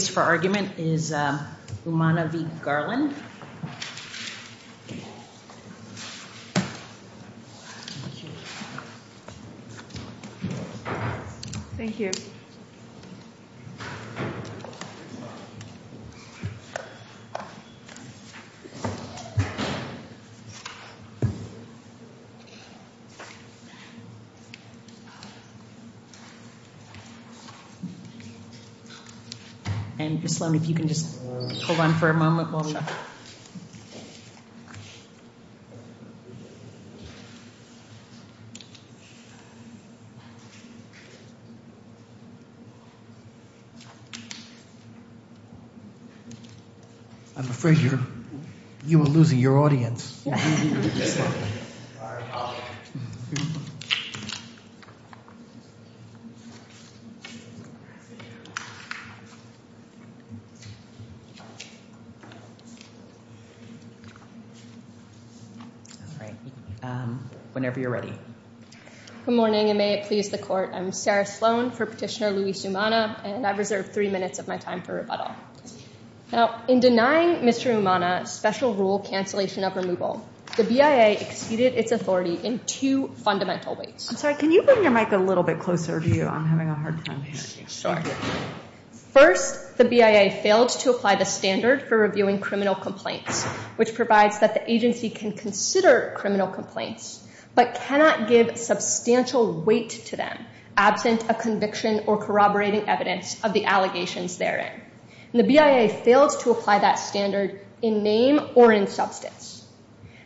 The case for argument is Umana v. Garland and Ms. Sloan, if you can just hold on for a moment while we... I'm afraid you're... you are losing your audience. Alright, whenever you're ready. Good morning and may it please the court. I'm Sarah Sloan for Petitioner Luis Umana and I've reserved three minutes of my time for rebuttal. In denying Mr. Umana special rule cancellation of removal, the BIA exceeded its authority in two fundamental ways. I'm sorry, can you bring your mic a little bit closer to you? I'm having a hard time hearing you. Sure. First, the BIA failed to apply the standard for reviewing criminal complaints, which provides that the agency can consider criminal complaints but cannot give substantial weight to them absent a conviction or corroborating evidence of the allegations therein. The BIA failed to apply that standard in name or in substance.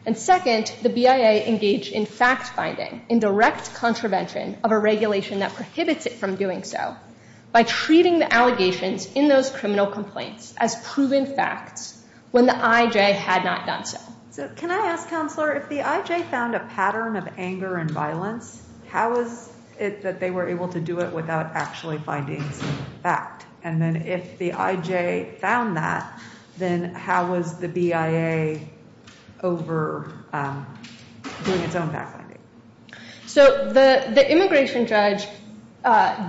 And second, the BIA engaged in fact-finding in direct contravention of a regulation that by treating the allegations in those criminal complaints as proven facts when the IJ had not done so. So can I ask, Counselor, if the IJ found a pattern of anger and violence, how is it that they were able to do it without actually finding some fact? And then if the IJ found that, then how was the BIA over doing its own fact-finding? So the immigration judge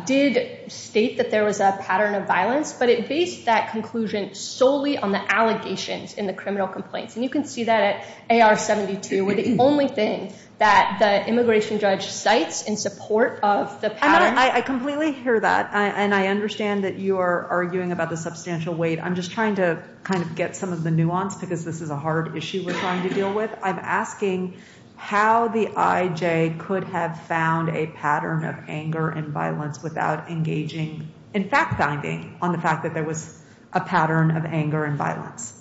did state that there was a pattern of violence, but it based that conclusion solely on the allegations in the criminal complaints. And you can see that at AR-72, where the only thing that the immigration judge cites in support of the pattern. I completely hear that. And I understand that you are arguing about the substantial weight. I'm just trying to kind of get some of the nuance because this is a hard issue we're trying to deal with. I'm asking how the IJ could have found a pattern of anger and violence without engaging in fact-finding on the fact that there was a pattern of anger and violence.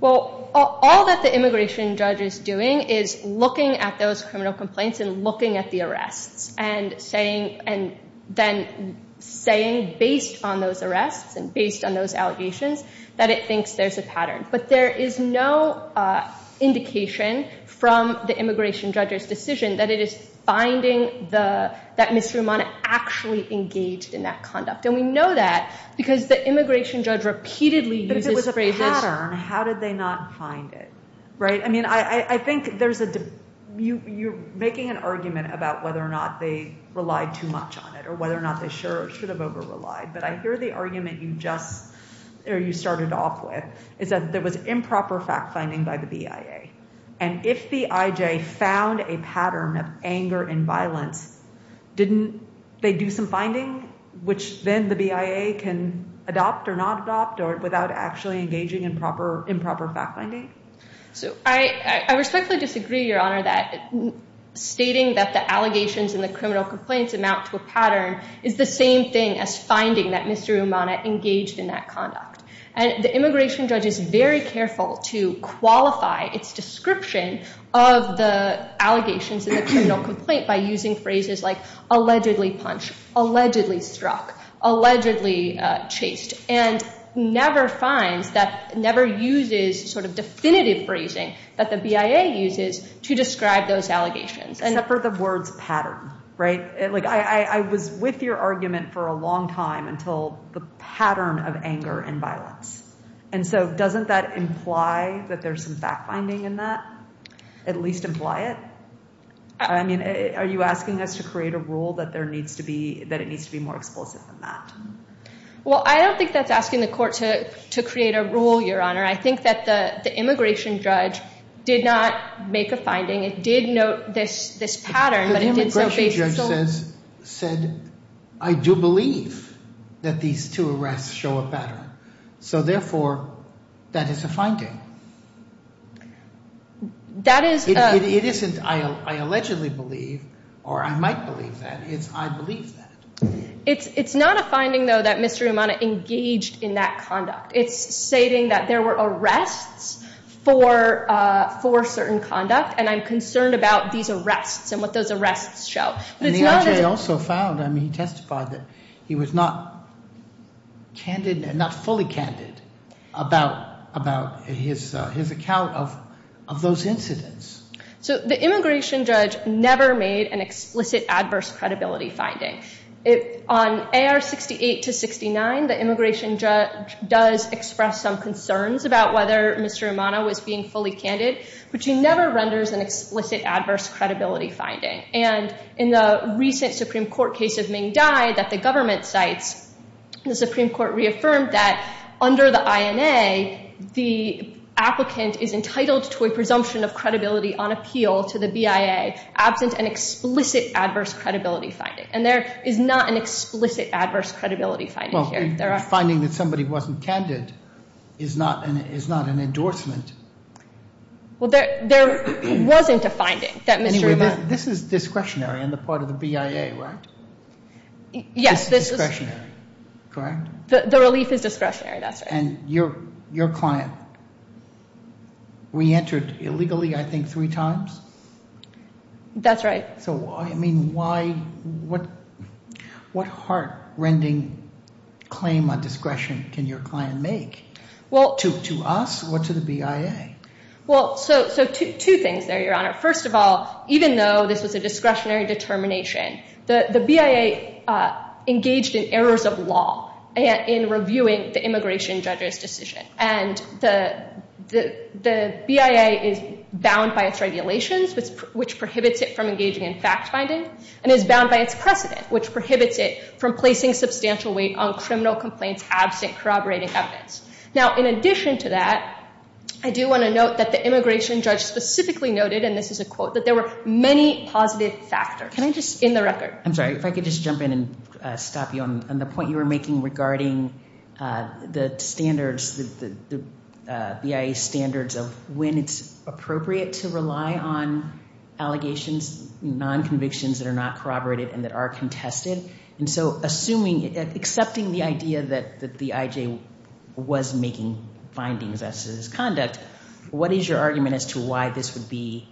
Well, all that the immigration judge is doing is looking at those criminal complaints and looking at the arrests and then saying, based on those arrests and based on those But there is no indication from the immigration judge's decision that it is finding that Ms. Romano actually engaged in that conduct. And we know that because the immigration judge repeatedly uses phrases. But if it was a pattern, how did they not find it? Right. I mean, I think there's a you're making an argument about whether or not they relied too much on it or whether or not they should have over relied. But I hear the argument you just started off with is that there was improper fact-finding by the BIA. And if the IJ found a pattern of anger and violence, didn't they do some finding, which then the BIA can adopt or not adopt or without actually engaging in proper improper fact-finding? So I respectfully disagree, Your Honor, that stating that the allegations and the finding that Mr. Romano engaged in that conduct and the immigration judge is very careful to qualify its description of the allegations in the criminal complaint by using phrases like allegedly punched, allegedly struck, allegedly chased and never finds that never uses sort of definitive phrasing that the BIA uses to describe those allegations. Except for the words pattern, right? Like, I was with your argument for a long time until the pattern of anger and violence. And so doesn't that imply that there's some fact-finding in that, at least imply it? I mean, are you asking us to create a rule that there needs to be that it needs to be more explosive than that? Well, I don't think that's asking the court to to create a rule, Your Honor. I think that the immigration judge did not make a finding. It did note this this pattern. The immigration judge says, said, I do believe that these two arrests show a pattern. So therefore, that is a finding. That is, it isn't I allegedly believe or I might believe that it's I believe that. It's not a finding, though, that Mr. Romano engaged in that conduct. It's stating that there were arrests for for certain conduct. And I'm concerned about these arrests and what those arrests show. And the I.J. also found, I mean, he testified that he was not. Candid, not fully candid about about his his account of of those incidents. So the immigration judge never made an explicit adverse credibility finding. If on A.R. 68 to 69, the immigration judge does express some concerns about whether Mr. Romano was fully candid, which he never renders an explicit adverse credibility finding. And in the recent Supreme Court case of Ming Dai that the government cites, the Supreme Court reaffirmed that under the INA, the applicant is entitled to a presumption of credibility on appeal to the BIA, absent an explicit adverse credibility finding. And there is not an explicit adverse credibility finding here. Finding that somebody wasn't candid is not an is not an endorsement. Well, there there wasn't a finding that Mr. This is discretionary on the part of the BIA, right? Yes, this is discretionary. Correct. The relief is discretionary. That's right. And your your client. We entered illegally, I think, three times. That's right. So, I mean, why? What what heart rending claim on discretion can your client make? Well, to to us or to the BIA? Well, so so two things there, Your Honor. First of all, even though this was a discretionary determination, the BIA engaged in errors of law in reviewing the immigration judge's decision. And the the the BIA is bound by its regulations, which prohibits it from engaging in fact finding and is bound by its precedent, which prohibits it from placing substantial weight on criminal complaints absent corroborating evidence. Now, in addition to that, I do want to note that the immigration judge specifically noted, and this is a quote, that there were many positive factors. Can I just in the record? I'm sorry if I could just jump in and stop you on the point you were making regarding the standards, the BIA standards of when it's appropriate to rely on allegations, non convictions that are not corroborated and that are contested. And so assuming accepting the idea that that the I.J. was making findings as his conduct. What is your argument as to why this would be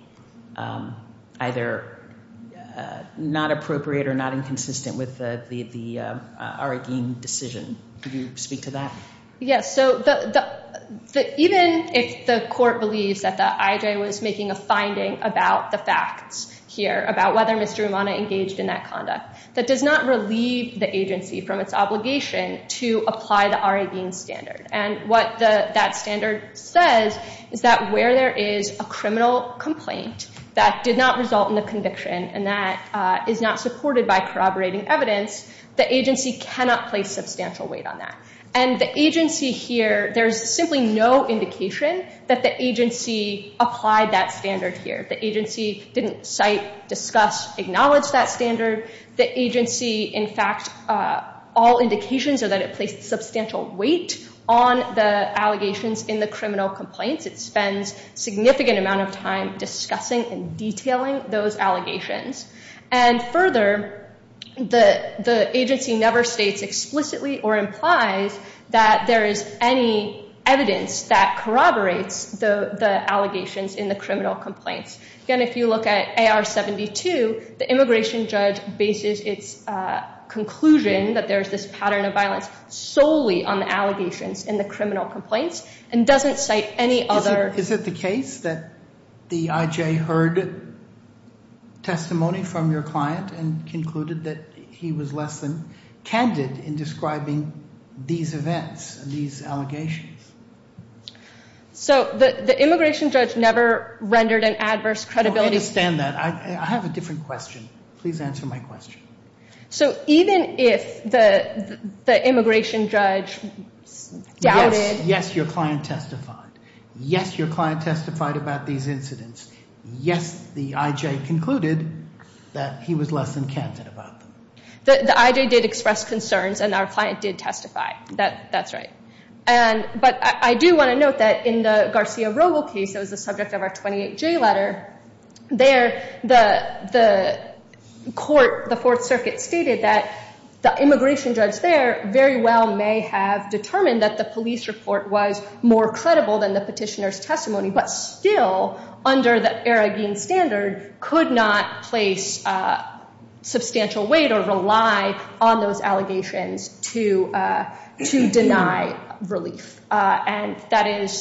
either not appropriate or not inconsistent with the the arguing decision? Could you speak to that? Yes. So the the even if the court believes that the I.J. was making a finding about the facts here, about whether Mr. in that conduct that does not relieve the agency from its obligation to apply the already in standard. And what that standard says is that where there is a criminal complaint that did not result in the conviction and that is not supported by corroborating evidence, the agency cannot place substantial weight on that. And the agency here, there's simply no indication that the agency applied that standard here. The agency didn't cite, discuss, acknowledge that standard. The agency, in fact, all indications are that it placed substantial weight on the allegations in the criminal complaints. It spends significant amount of time discussing and detailing those allegations. And further, the the agency never states explicitly or implies that there is any evidence that corroborates the allegations in the criminal complaints. Again, if you look at A.R. 72, the immigration judge bases its conclusion that there's this pattern of violence solely on the allegations in the criminal complaints and doesn't cite any other. Is it the case that the I.J. heard testimony from your client and concluded that he was less than candid in describing these events, these allegations? So the immigration judge never rendered an adverse credibility. I understand that. I have a different question. Please answer my question. So even if the the immigration judge doubted. Yes, your client testified. Yes, your client testified about these incidents. Yes, the I.J. concluded that he was less than candid about them. The I.J. did express concerns and our client did testify that that's right. And but I do want to note that in the Garcia Rogel case, that was the subject of our 28 J letter there. The the court, the Fourth Circuit stated that the immigration judge there very well may have determined that the police report was more credible than the petitioner's testimony, but still under the Aragin standard could not place a substantial weight or rely on those allegations to to deny relief. And that is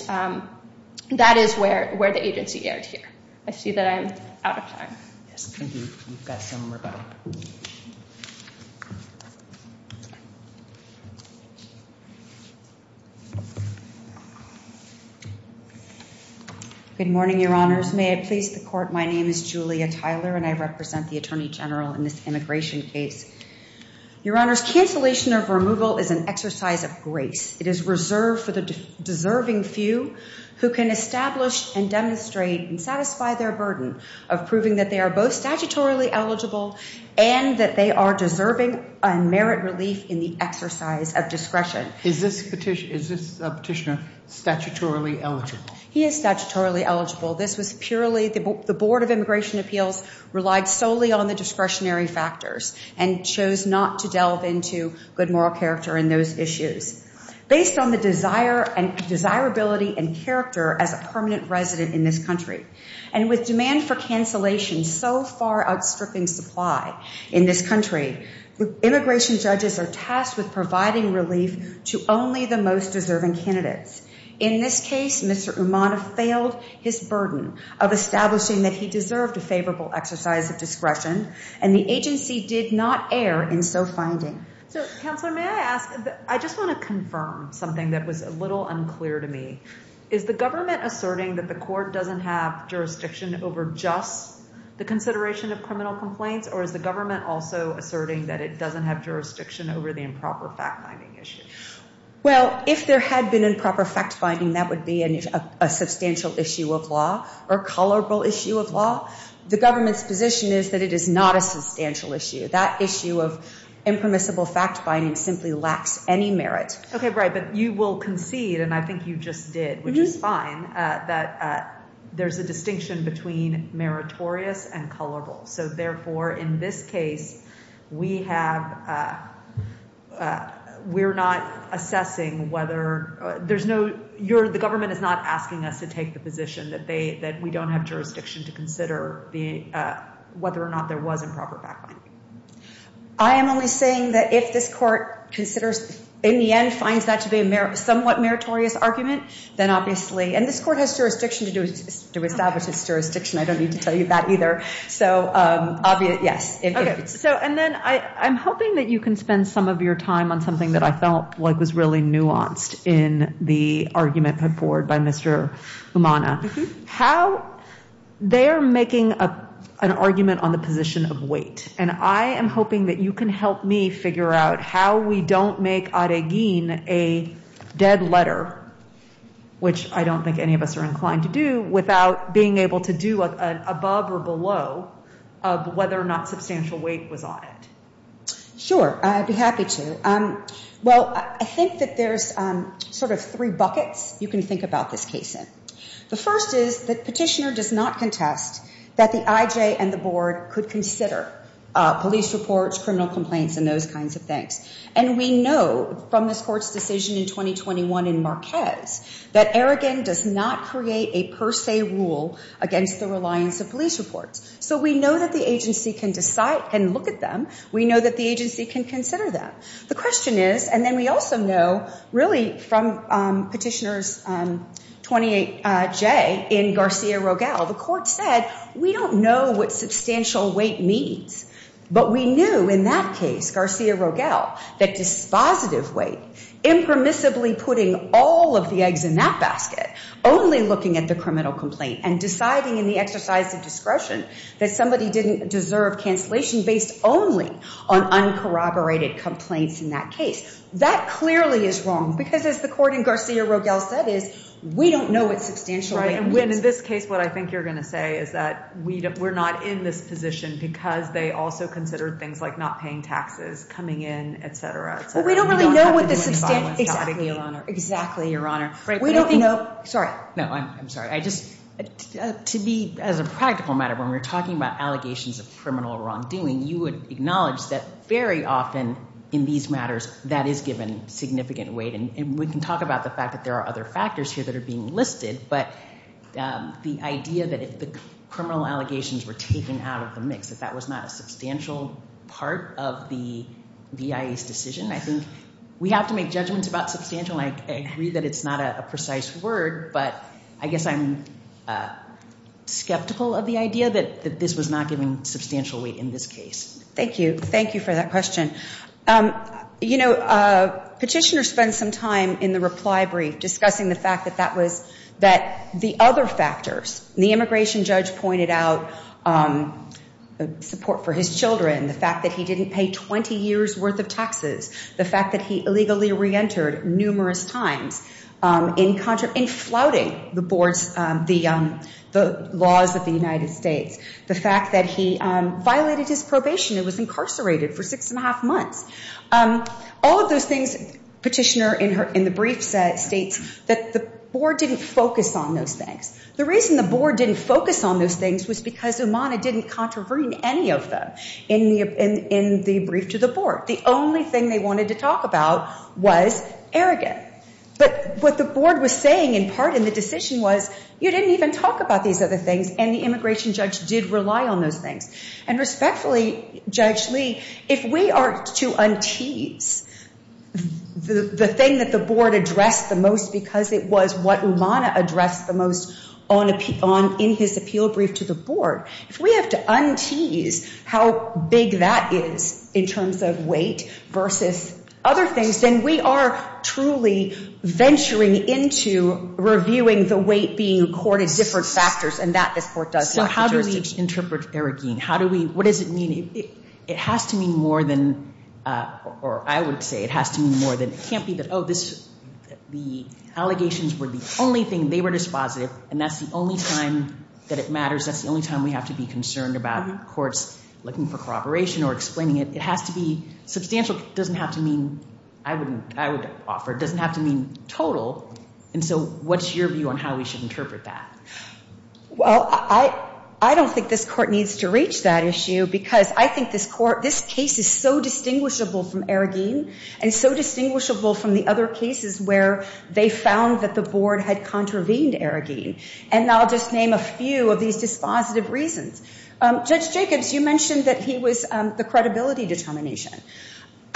that is where where the agency erred here. I see that I'm out of time. Yes, thank you. You've got some rebuttal. Good morning, your honors. May I please the court. My name is Julia Tyler and I represent the attorney general in this immigration case. Your honors, cancellation of removal is an exercise of grace. It is reserved for the deserving few who can establish and demonstrate and satisfy their burden of proving that they are both statutorily eligible and that they are deserving and merit relief in the exercise of discretion. Is this petition, is this petitioner statutorily eligible? He is statutorily eligible. This was purely the board of immigration appeals relied solely on the discretionary factors and chose not to delve into good moral character in those issues based on the desire and desirability and character as a permanent resident in this country and with demand for cancellation so far outstripping supply in this country. Immigration judges are tasked with providing relief to only the most deserving candidates. In this case, Mr. Umana failed his burden of establishing that he deserved a favorable exercise of discretion and the agency did not err in so finding. So, counselor, may I ask? I just want to confirm something that was a little unclear to me. Is the government asserting that the court doesn't have jurisdiction over just the consideration of criminal complaints? Or is the government also asserting that it doesn't have jurisdiction over the improper fact finding issue? Well, if there had been improper fact finding, that would be a substantial issue of law or colorable issue of law. The government's position is that it is not a substantial issue. That issue of impermissible fact finding simply lacks any merit. OK, right. But you will concede, and I think you just did, which is fine, that there's a distinction between meritorious and colorable. So therefore, in this case, we have we're not assessing whether there's no you're the government is not asking us to take the position that they that we don't have jurisdiction to consider the whether or not there was improper fact finding. I am only saying that if this court considers, in the end, finds that to be a somewhat meritorious argument, then obviously and this court has jurisdiction to do is to establish its jurisdiction. I don't need to tell you that either. So obvious. Yes. So and then I'm hoping that you can spend some of your time on something that I felt like was really nuanced in the argument put forward by Mr. Umana, how they are making an argument on the position of weight. And I am hoping that you can help me figure out how we don't make Aragin a dead letter, which I don't think any of us are inclined to do without being able to do above or below of whether or not substantial weight was on it. Sure. I'd be happy to. Well, I think that there's sort of three buckets. You can think about this case. The first is that petitioner does not contest that the IJ and the board could consider police reports, criminal complaints and those kinds of things. And we know from this court's decision in 2021 in Marquez that Aragin does not create a per se rule against the reliance of police reports. So we know that the agency can decide and look at them. We know that the agency can consider them. The question is, and then we also know really from petitioners 28J in Garcia-Rogel, the court said, we don't know what substantial weight means. But we knew in that case, Garcia-Rogel, that dispositive weight, impermissibly putting all of the eggs in that basket, only looking at the criminal complaint and deciding in the exercise of discretion that somebody didn't deserve cancellation based only on uncorroborated complaints in that case. That clearly is wrong, because as the court in Garcia-Rogel said is, we don't know what substantial weight means. In this case, what I think you're going to say is that we're not in this position because they also considered things like not paying taxes, coming in, etc. We don't really know what the substantial weight means. Exactly, Your Honor. We don't know. Sorry. No, I'm sorry. I just to be as a practical matter, when we're talking about you would acknowledge that very often in these matters that is given significant weight. And we can talk about the fact that there are other factors here that are being listed. But the idea that if the criminal allegations were taken out of the mix, that that was not a substantial part of the BIA's decision, I think we have to make judgments about substantial. I agree that it's not a precise word, but I guess I'm not giving substantial weight in this case. Thank you. Thank you for that question. You know, Petitioner spent some time in the reply brief discussing the fact that that was that the other factors, the immigration judge pointed out support for his children, the fact that he didn't pay 20 years worth of taxes, the fact that he illegally reentered numerous times in flouting the laws of the United States. The fact that he violated his probation and was incarcerated for six and a half months. All of those things, Petitioner in the brief states that the board didn't focus on those things. The reason the board didn't focus on those things was because Umana didn't contravene any of them in the brief to the board. The only thing they wanted to talk about was arrogance. But what the board was saying in part in the decision was you didn't even talk about these other things. And the immigration judge did rely on those things. And respectfully, Judge Lee, if we are to untease the thing that the board addressed the most because it was what Umana addressed the most on in his appeal brief to the board, if we have to untease how big that is in terms of weight versus other things, then we are truly venturing into reviewing the weight being accorded different factors. And that this court does. So how do we interpret arrogance? How do we what does it mean? It has to mean more than or I would say it has to mean more than it can't be that. Oh, this the allegations were the only thing they were dispositive. And that's the only time that it matters. That's the only time we have to be concerned about courts looking for corroboration or explaining it. It has to be substantial. It doesn't have to mean I wouldn't I would offer it doesn't have to mean total. And so what's your view on how we should interpret that? Well, I I don't think this court needs to reach that issue because I think this court this case is so distinguishable from Aragin and so distinguishable from the other cases where they found that the board had contravened Aragin. And I'll just name a few of these dispositive reasons. Judge Jacobs, you mentioned that he was the credibility determination.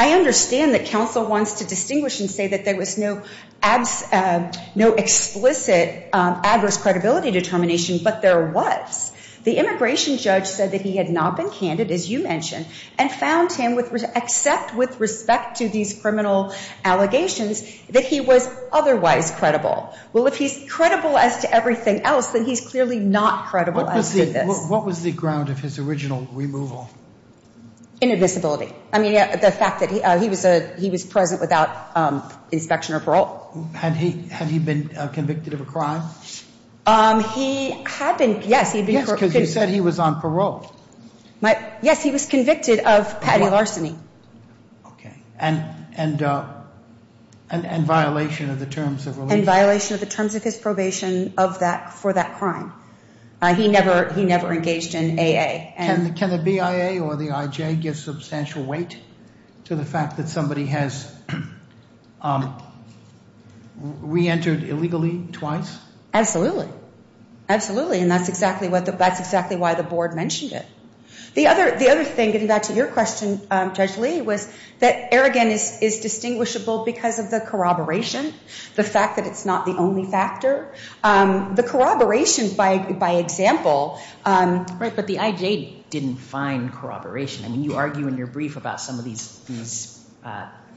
I understand that counsel wants to distinguish and say that there was no abs no explicit adverse credibility determination. But there was the immigration judge said that he had not been candid, as you mentioned, and found him with except with respect to these criminal allegations that he was otherwise credible. Well, if he's credible as to everything else, then he's clearly not credible. What was the ground of his original removal? Inadmissibility. I mean, the fact that he he was a he was present without inspection or parole. Had he had he been convicted of a crime? He had been. Yes. He said he was on parole. But yes, he was convicted of petty larceny. OK. And and and violation of the terms of violation of the terms of his probation of that for that crime. He never he never engaged in AA. And can the BIA or the IJ give substantial weight to the fact that somebody has reentered illegally twice? Absolutely. Absolutely. And that's exactly what that's exactly why the board mentioned it. The other the other thing, getting back to your question, Judge Lee, was that arrogance is distinguishable because of the corroboration. The fact that it's not the only factor. The corroboration, by by example. Right. But the IJ didn't find corroboration. I mean, you argue in your brief about some of these these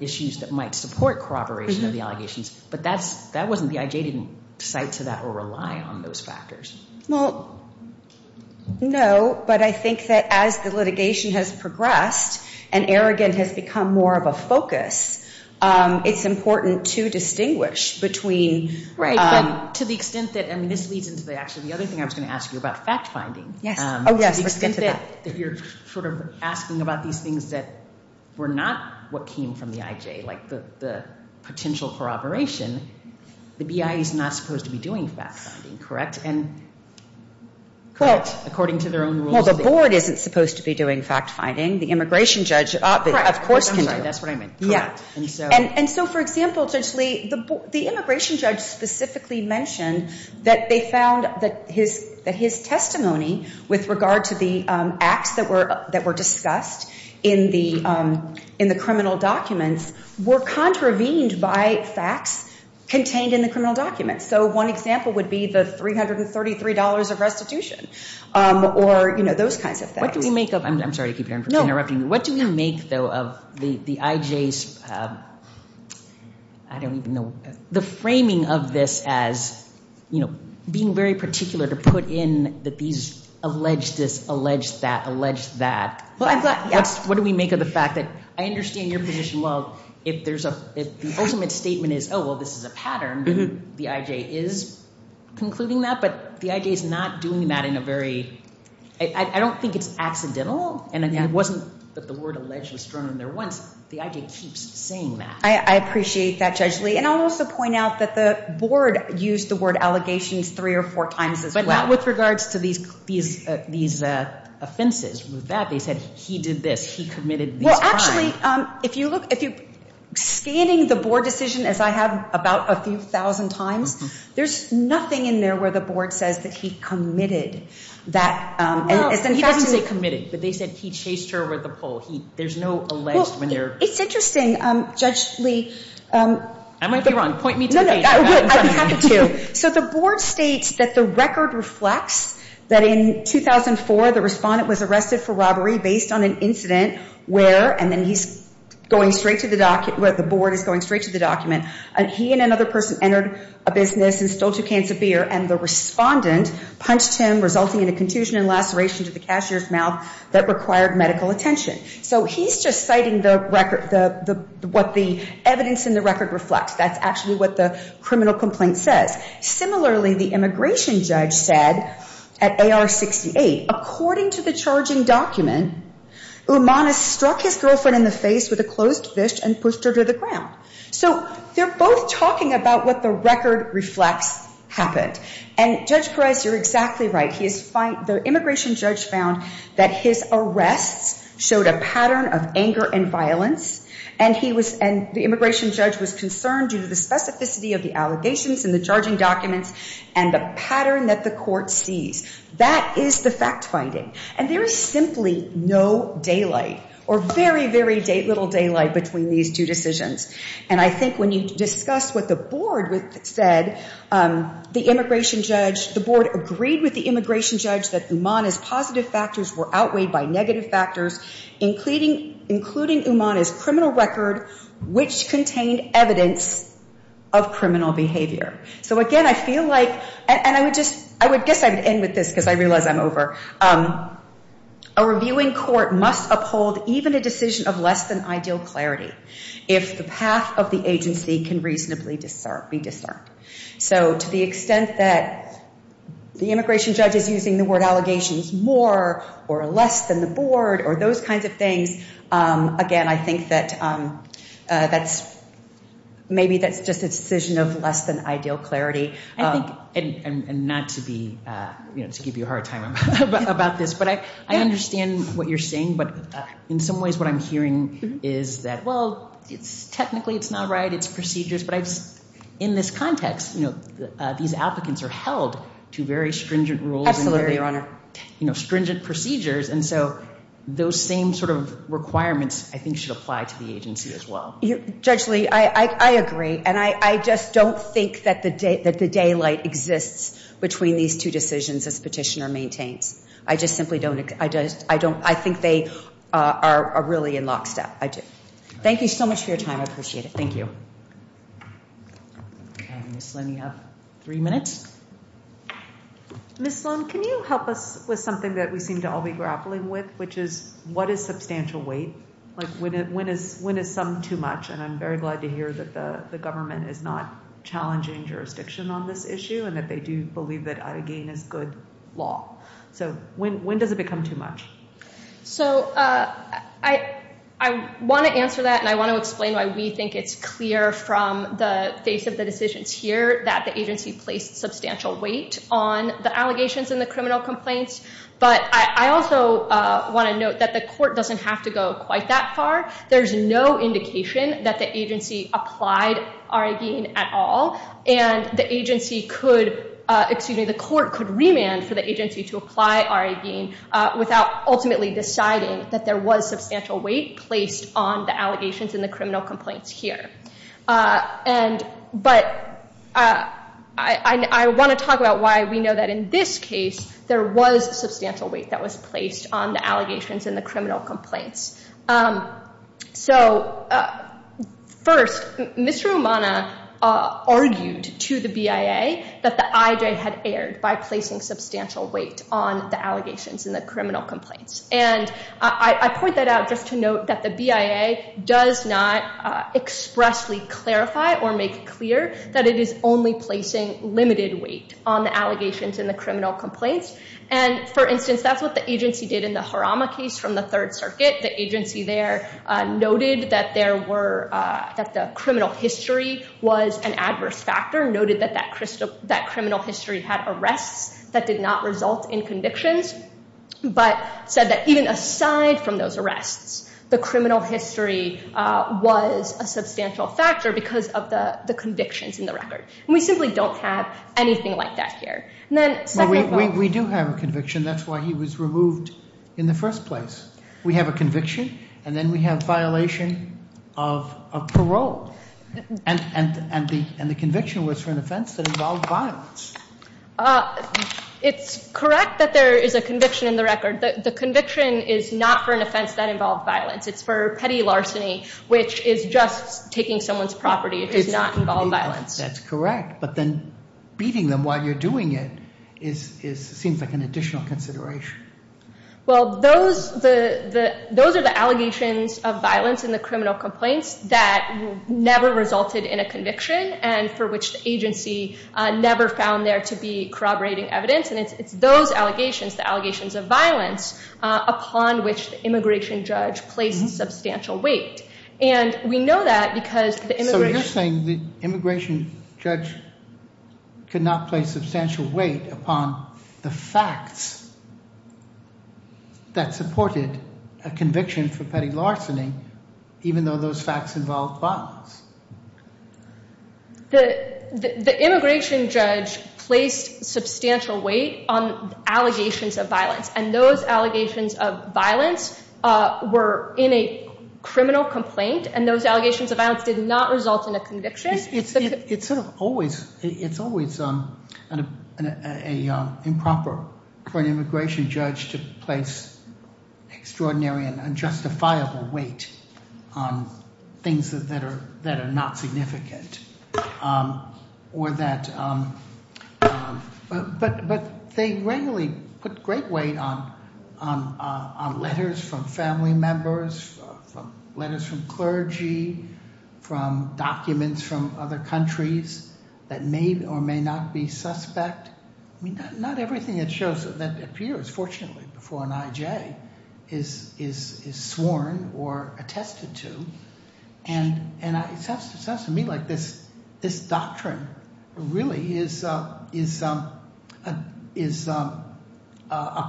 issues that might support corroboration of the allegations. But that's that wasn't the IJ didn't cite to that or rely on those factors. Well, no. But I think that as the litigation has progressed and arrogant has become more of a focus, it's important to distinguish between. Right. But to the extent that I mean, this leads into the actually the other thing I was going to ask you about fact finding. Yes. Oh, yes. To the extent that you're sort of asking about these things that were not what came from the IJ, like the the potential corroboration. The BIA is not supposed to be doing fact finding, correct? And. Correct. According to their own rules. Well, the board isn't supposed to be doing fact finding. The immigration judge, of course, can do that's what I mean. Yeah. And so. And so, for example, Judge Lee, the immigration judge specifically mentioned that they found that his that his testimony with regard to the acts that were that were discussed in the in the criminal documents were contravened by facts contained in the criminal documents. So one example would be the three hundred and thirty three dollars of restitution or, you know, those kinds of things. What do we make of I'm sorry to keep interrupting. What do we make, though, of the IJs? I don't even know the framing of this as, you know, being very particular to put in that these alleged this, alleged that, alleged that. Well, I thought, what do we make of the fact that I understand your position? Well, if there's a if the ultimate statement is, oh, well, this is a pattern. The IJ is concluding that. But the IJ is not doing that in a very I don't think it's accidental. And it wasn't that the word alleged was thrown in there once. The IJ keeps saying that. I appreciate that, Judge Lee. And I'll also point out that the board used the word allegations three or four times as well. With regards to these these these offenses with that, they said he did this. He committed. Well, actually, if you look, if you're scanning the board decision, as I have about a few thousand times, there's nothing in there where the board says that he committed that. And he doesn't say committed, but they said he chased her with a pole. There's no alleged when they're. It's interesting, Judge Lee. I might be wrong. Point me to the page. So the board states that the record reflects that in 2004, the respondent was arrested for robbery based on an incident where and then he's going straight to the document, where the board is going straight to the document. And he and another person entered a business and stole two cans of beer. And the respondent punched him, resulting in a contusion and laceration to the cashier's mouth that required medical attention. So he's just citing the record, the what the evidence in the record reflects. That's actually what the criminal complaint says. Similarly, the immigration judge said at A.R. 68, according to the charging document, Umana struck his girlfriend in the face with a closed fist and pushed her to the ground. So they're both talking about what the record reflects happened. And Judge Perez, you're exactly right. He is fine. The immigration judge found that his arrests showed a pattern of anger and violence. And he was and the immigration judge was concerned due to the specificity of the allegations in the charging documents and the pattern that the court sees. That is the fact finding. And there is simply no daylight or very, very little daylight between these two decisions. And I think when you discuss what the board said, the immigration judge, the board agreed with the immigration judge that Umana's positive factors were outweighed by negative factors, including including Umana's criminal record, which contained evidence of criminal behavior. So, again, I feel like and I would just I would guess I would end with this because I realize I'm over. A reviewing court must uphold even a decision of less than ideal clarity if the path of the agency can reasonably be discerned. So to the extent that the immigration judge is using the word allegations more or less than the board or those kinds of things. Again, I think that that's maybe that's just a decision of less than ideal clarity. I think and not to be, you know, to give you a hard time about this, but I understand what you're saying. But in some ways, what I'm hearing is that, well, it's technically it's not right. It's procedures. But in this context, you know, these applicants are held to very stringent rules. Absolutely, Your Honor. You know, stringent procedures. And so those same sort of requirements, I think, should apply to the agency as well. Judge Lee, I agree. And I just don't think that the daylight exists between these two decisions as petitioner maintains. I just simply don't. I just I don't I think they are really in lockstep. I do. Thank you so much for your time. I appreciate it. Thank you. Ms. Lynn, you have three minutes. Ms. Lynn, can you help us with something that we seem to all be grappling with, which is what is substantial weight? Like when is when is some too much? And I'm very glad to hear that the government is not challenging jurisdiction on this issue and that they do believe that, again, is good law. So when when does it become too much? So I I want to answer that. And I want to explain why we think it's clear from the face of the decisions here that the agency placed substantial weight on the allegations and the criminal complaints. But I also want to note that the court doesn't have to go quite that far. There's no indication that the agency applied our again at all. And the agency could excuse me. The court could remand for the agency to apply our again without ultimately deciding that there was substantial weight placed on the allegations in the criminal complaints here. And but I want to talk about why we know that in this case, there was substantial weight that was placed on the allegations and the criminal complaints. So first, Mr. Omana argued to the BIA that the IJ had erred by placing substantial weight on the allegations in the criminal complaints. And I point that out just to note that the BIA does not expressly clarify or make clear that it is only placing limited weight on the allegations in the criminal complaints. And for instance, that's what the agency did in the Harama case from the Third Circuit. The agency there noted that there were that the criminal history was an adverse factor, noted that that that criminal history had arrests that did not result in convictions, but said that even aside from those arrests, the criminal history was a substantial factor because of the convictions in the record. And we simply don't have anything like that here. And then we do have a conviction. That's why he was removed in the first place. We have a conviction and then we have violation of a parole. And and and the and the conviction was for an offense that involved violence. Uh, it's correct that there is a conviction in the record. The conviction is not for an offense that involved violence. It's for petty larceny, which is just taking someone's property. It does not involve violence. That's correct. But then beating them while you're doing it is is seems like an additional consideration. Well, those the the those are the allegations of violence in the criminal complaints that never resulted in a conviction and for which the agency never found there to be corroborating evidence. And it's those allegations, the allegations of violence upon which the immigration judge placed substantial weight. And we know that because the immigration judge could not place substantial weight upon the facts. That supported a conviction for petty larceny, even though those facts involved violence. The the immigration judge placed substantial weight on allegations of violence, and those allegations of violence were in a criminal complaint. And those allegations of violence did not result in a conviction. It's it's sort of always it's always an a a improper for an immigration judge to place extraordinary and unjustifiable weight on things that are that are not significant. Or that. But but but they regularly put great weight on on on letters from family members, from letters from clergy, from documents from other countries that may or may not be suspect. I mean, not everything it shows that appears, fortunately, before an IJ is is is sworn or attested to. And and it sounds to me like this this doctrine really is is is a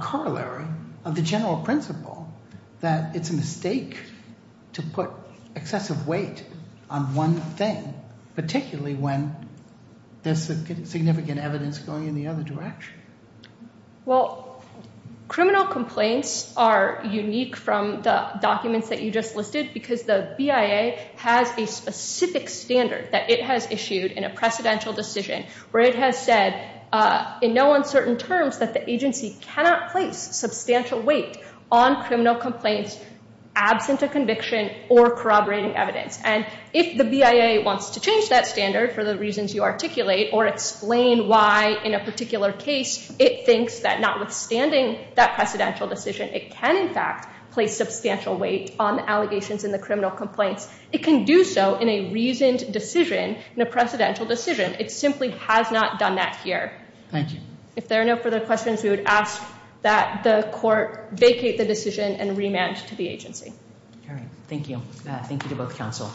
corollary of the general principle that it's a mistake to put excessive weight on one thing, particularly when there's significant evidence going in the other direction. Well, criminal complaints are unique from the documents that you just listed, because the BIA has a specific standard that it has issued in a precedential decision where it has said in no uncertain terms that the agency cannot place substantial weight on criminal complaints absent a conviction or corroborating evidence. And if the BIA wants to change that standard for the reasons you articulate or explain why in a particular case, it thinks that notwithstanding that precedential decision, it can, in fact, place substantial weight on allegations in the criminal complaints. It can do so in a reasoned decision in a precedential decision. It simply has not done that here. Thank you. If there are no further questions, we would ask that the court vacate the decision and remand to the agency. All right. Thank you. Thank you to both counsel.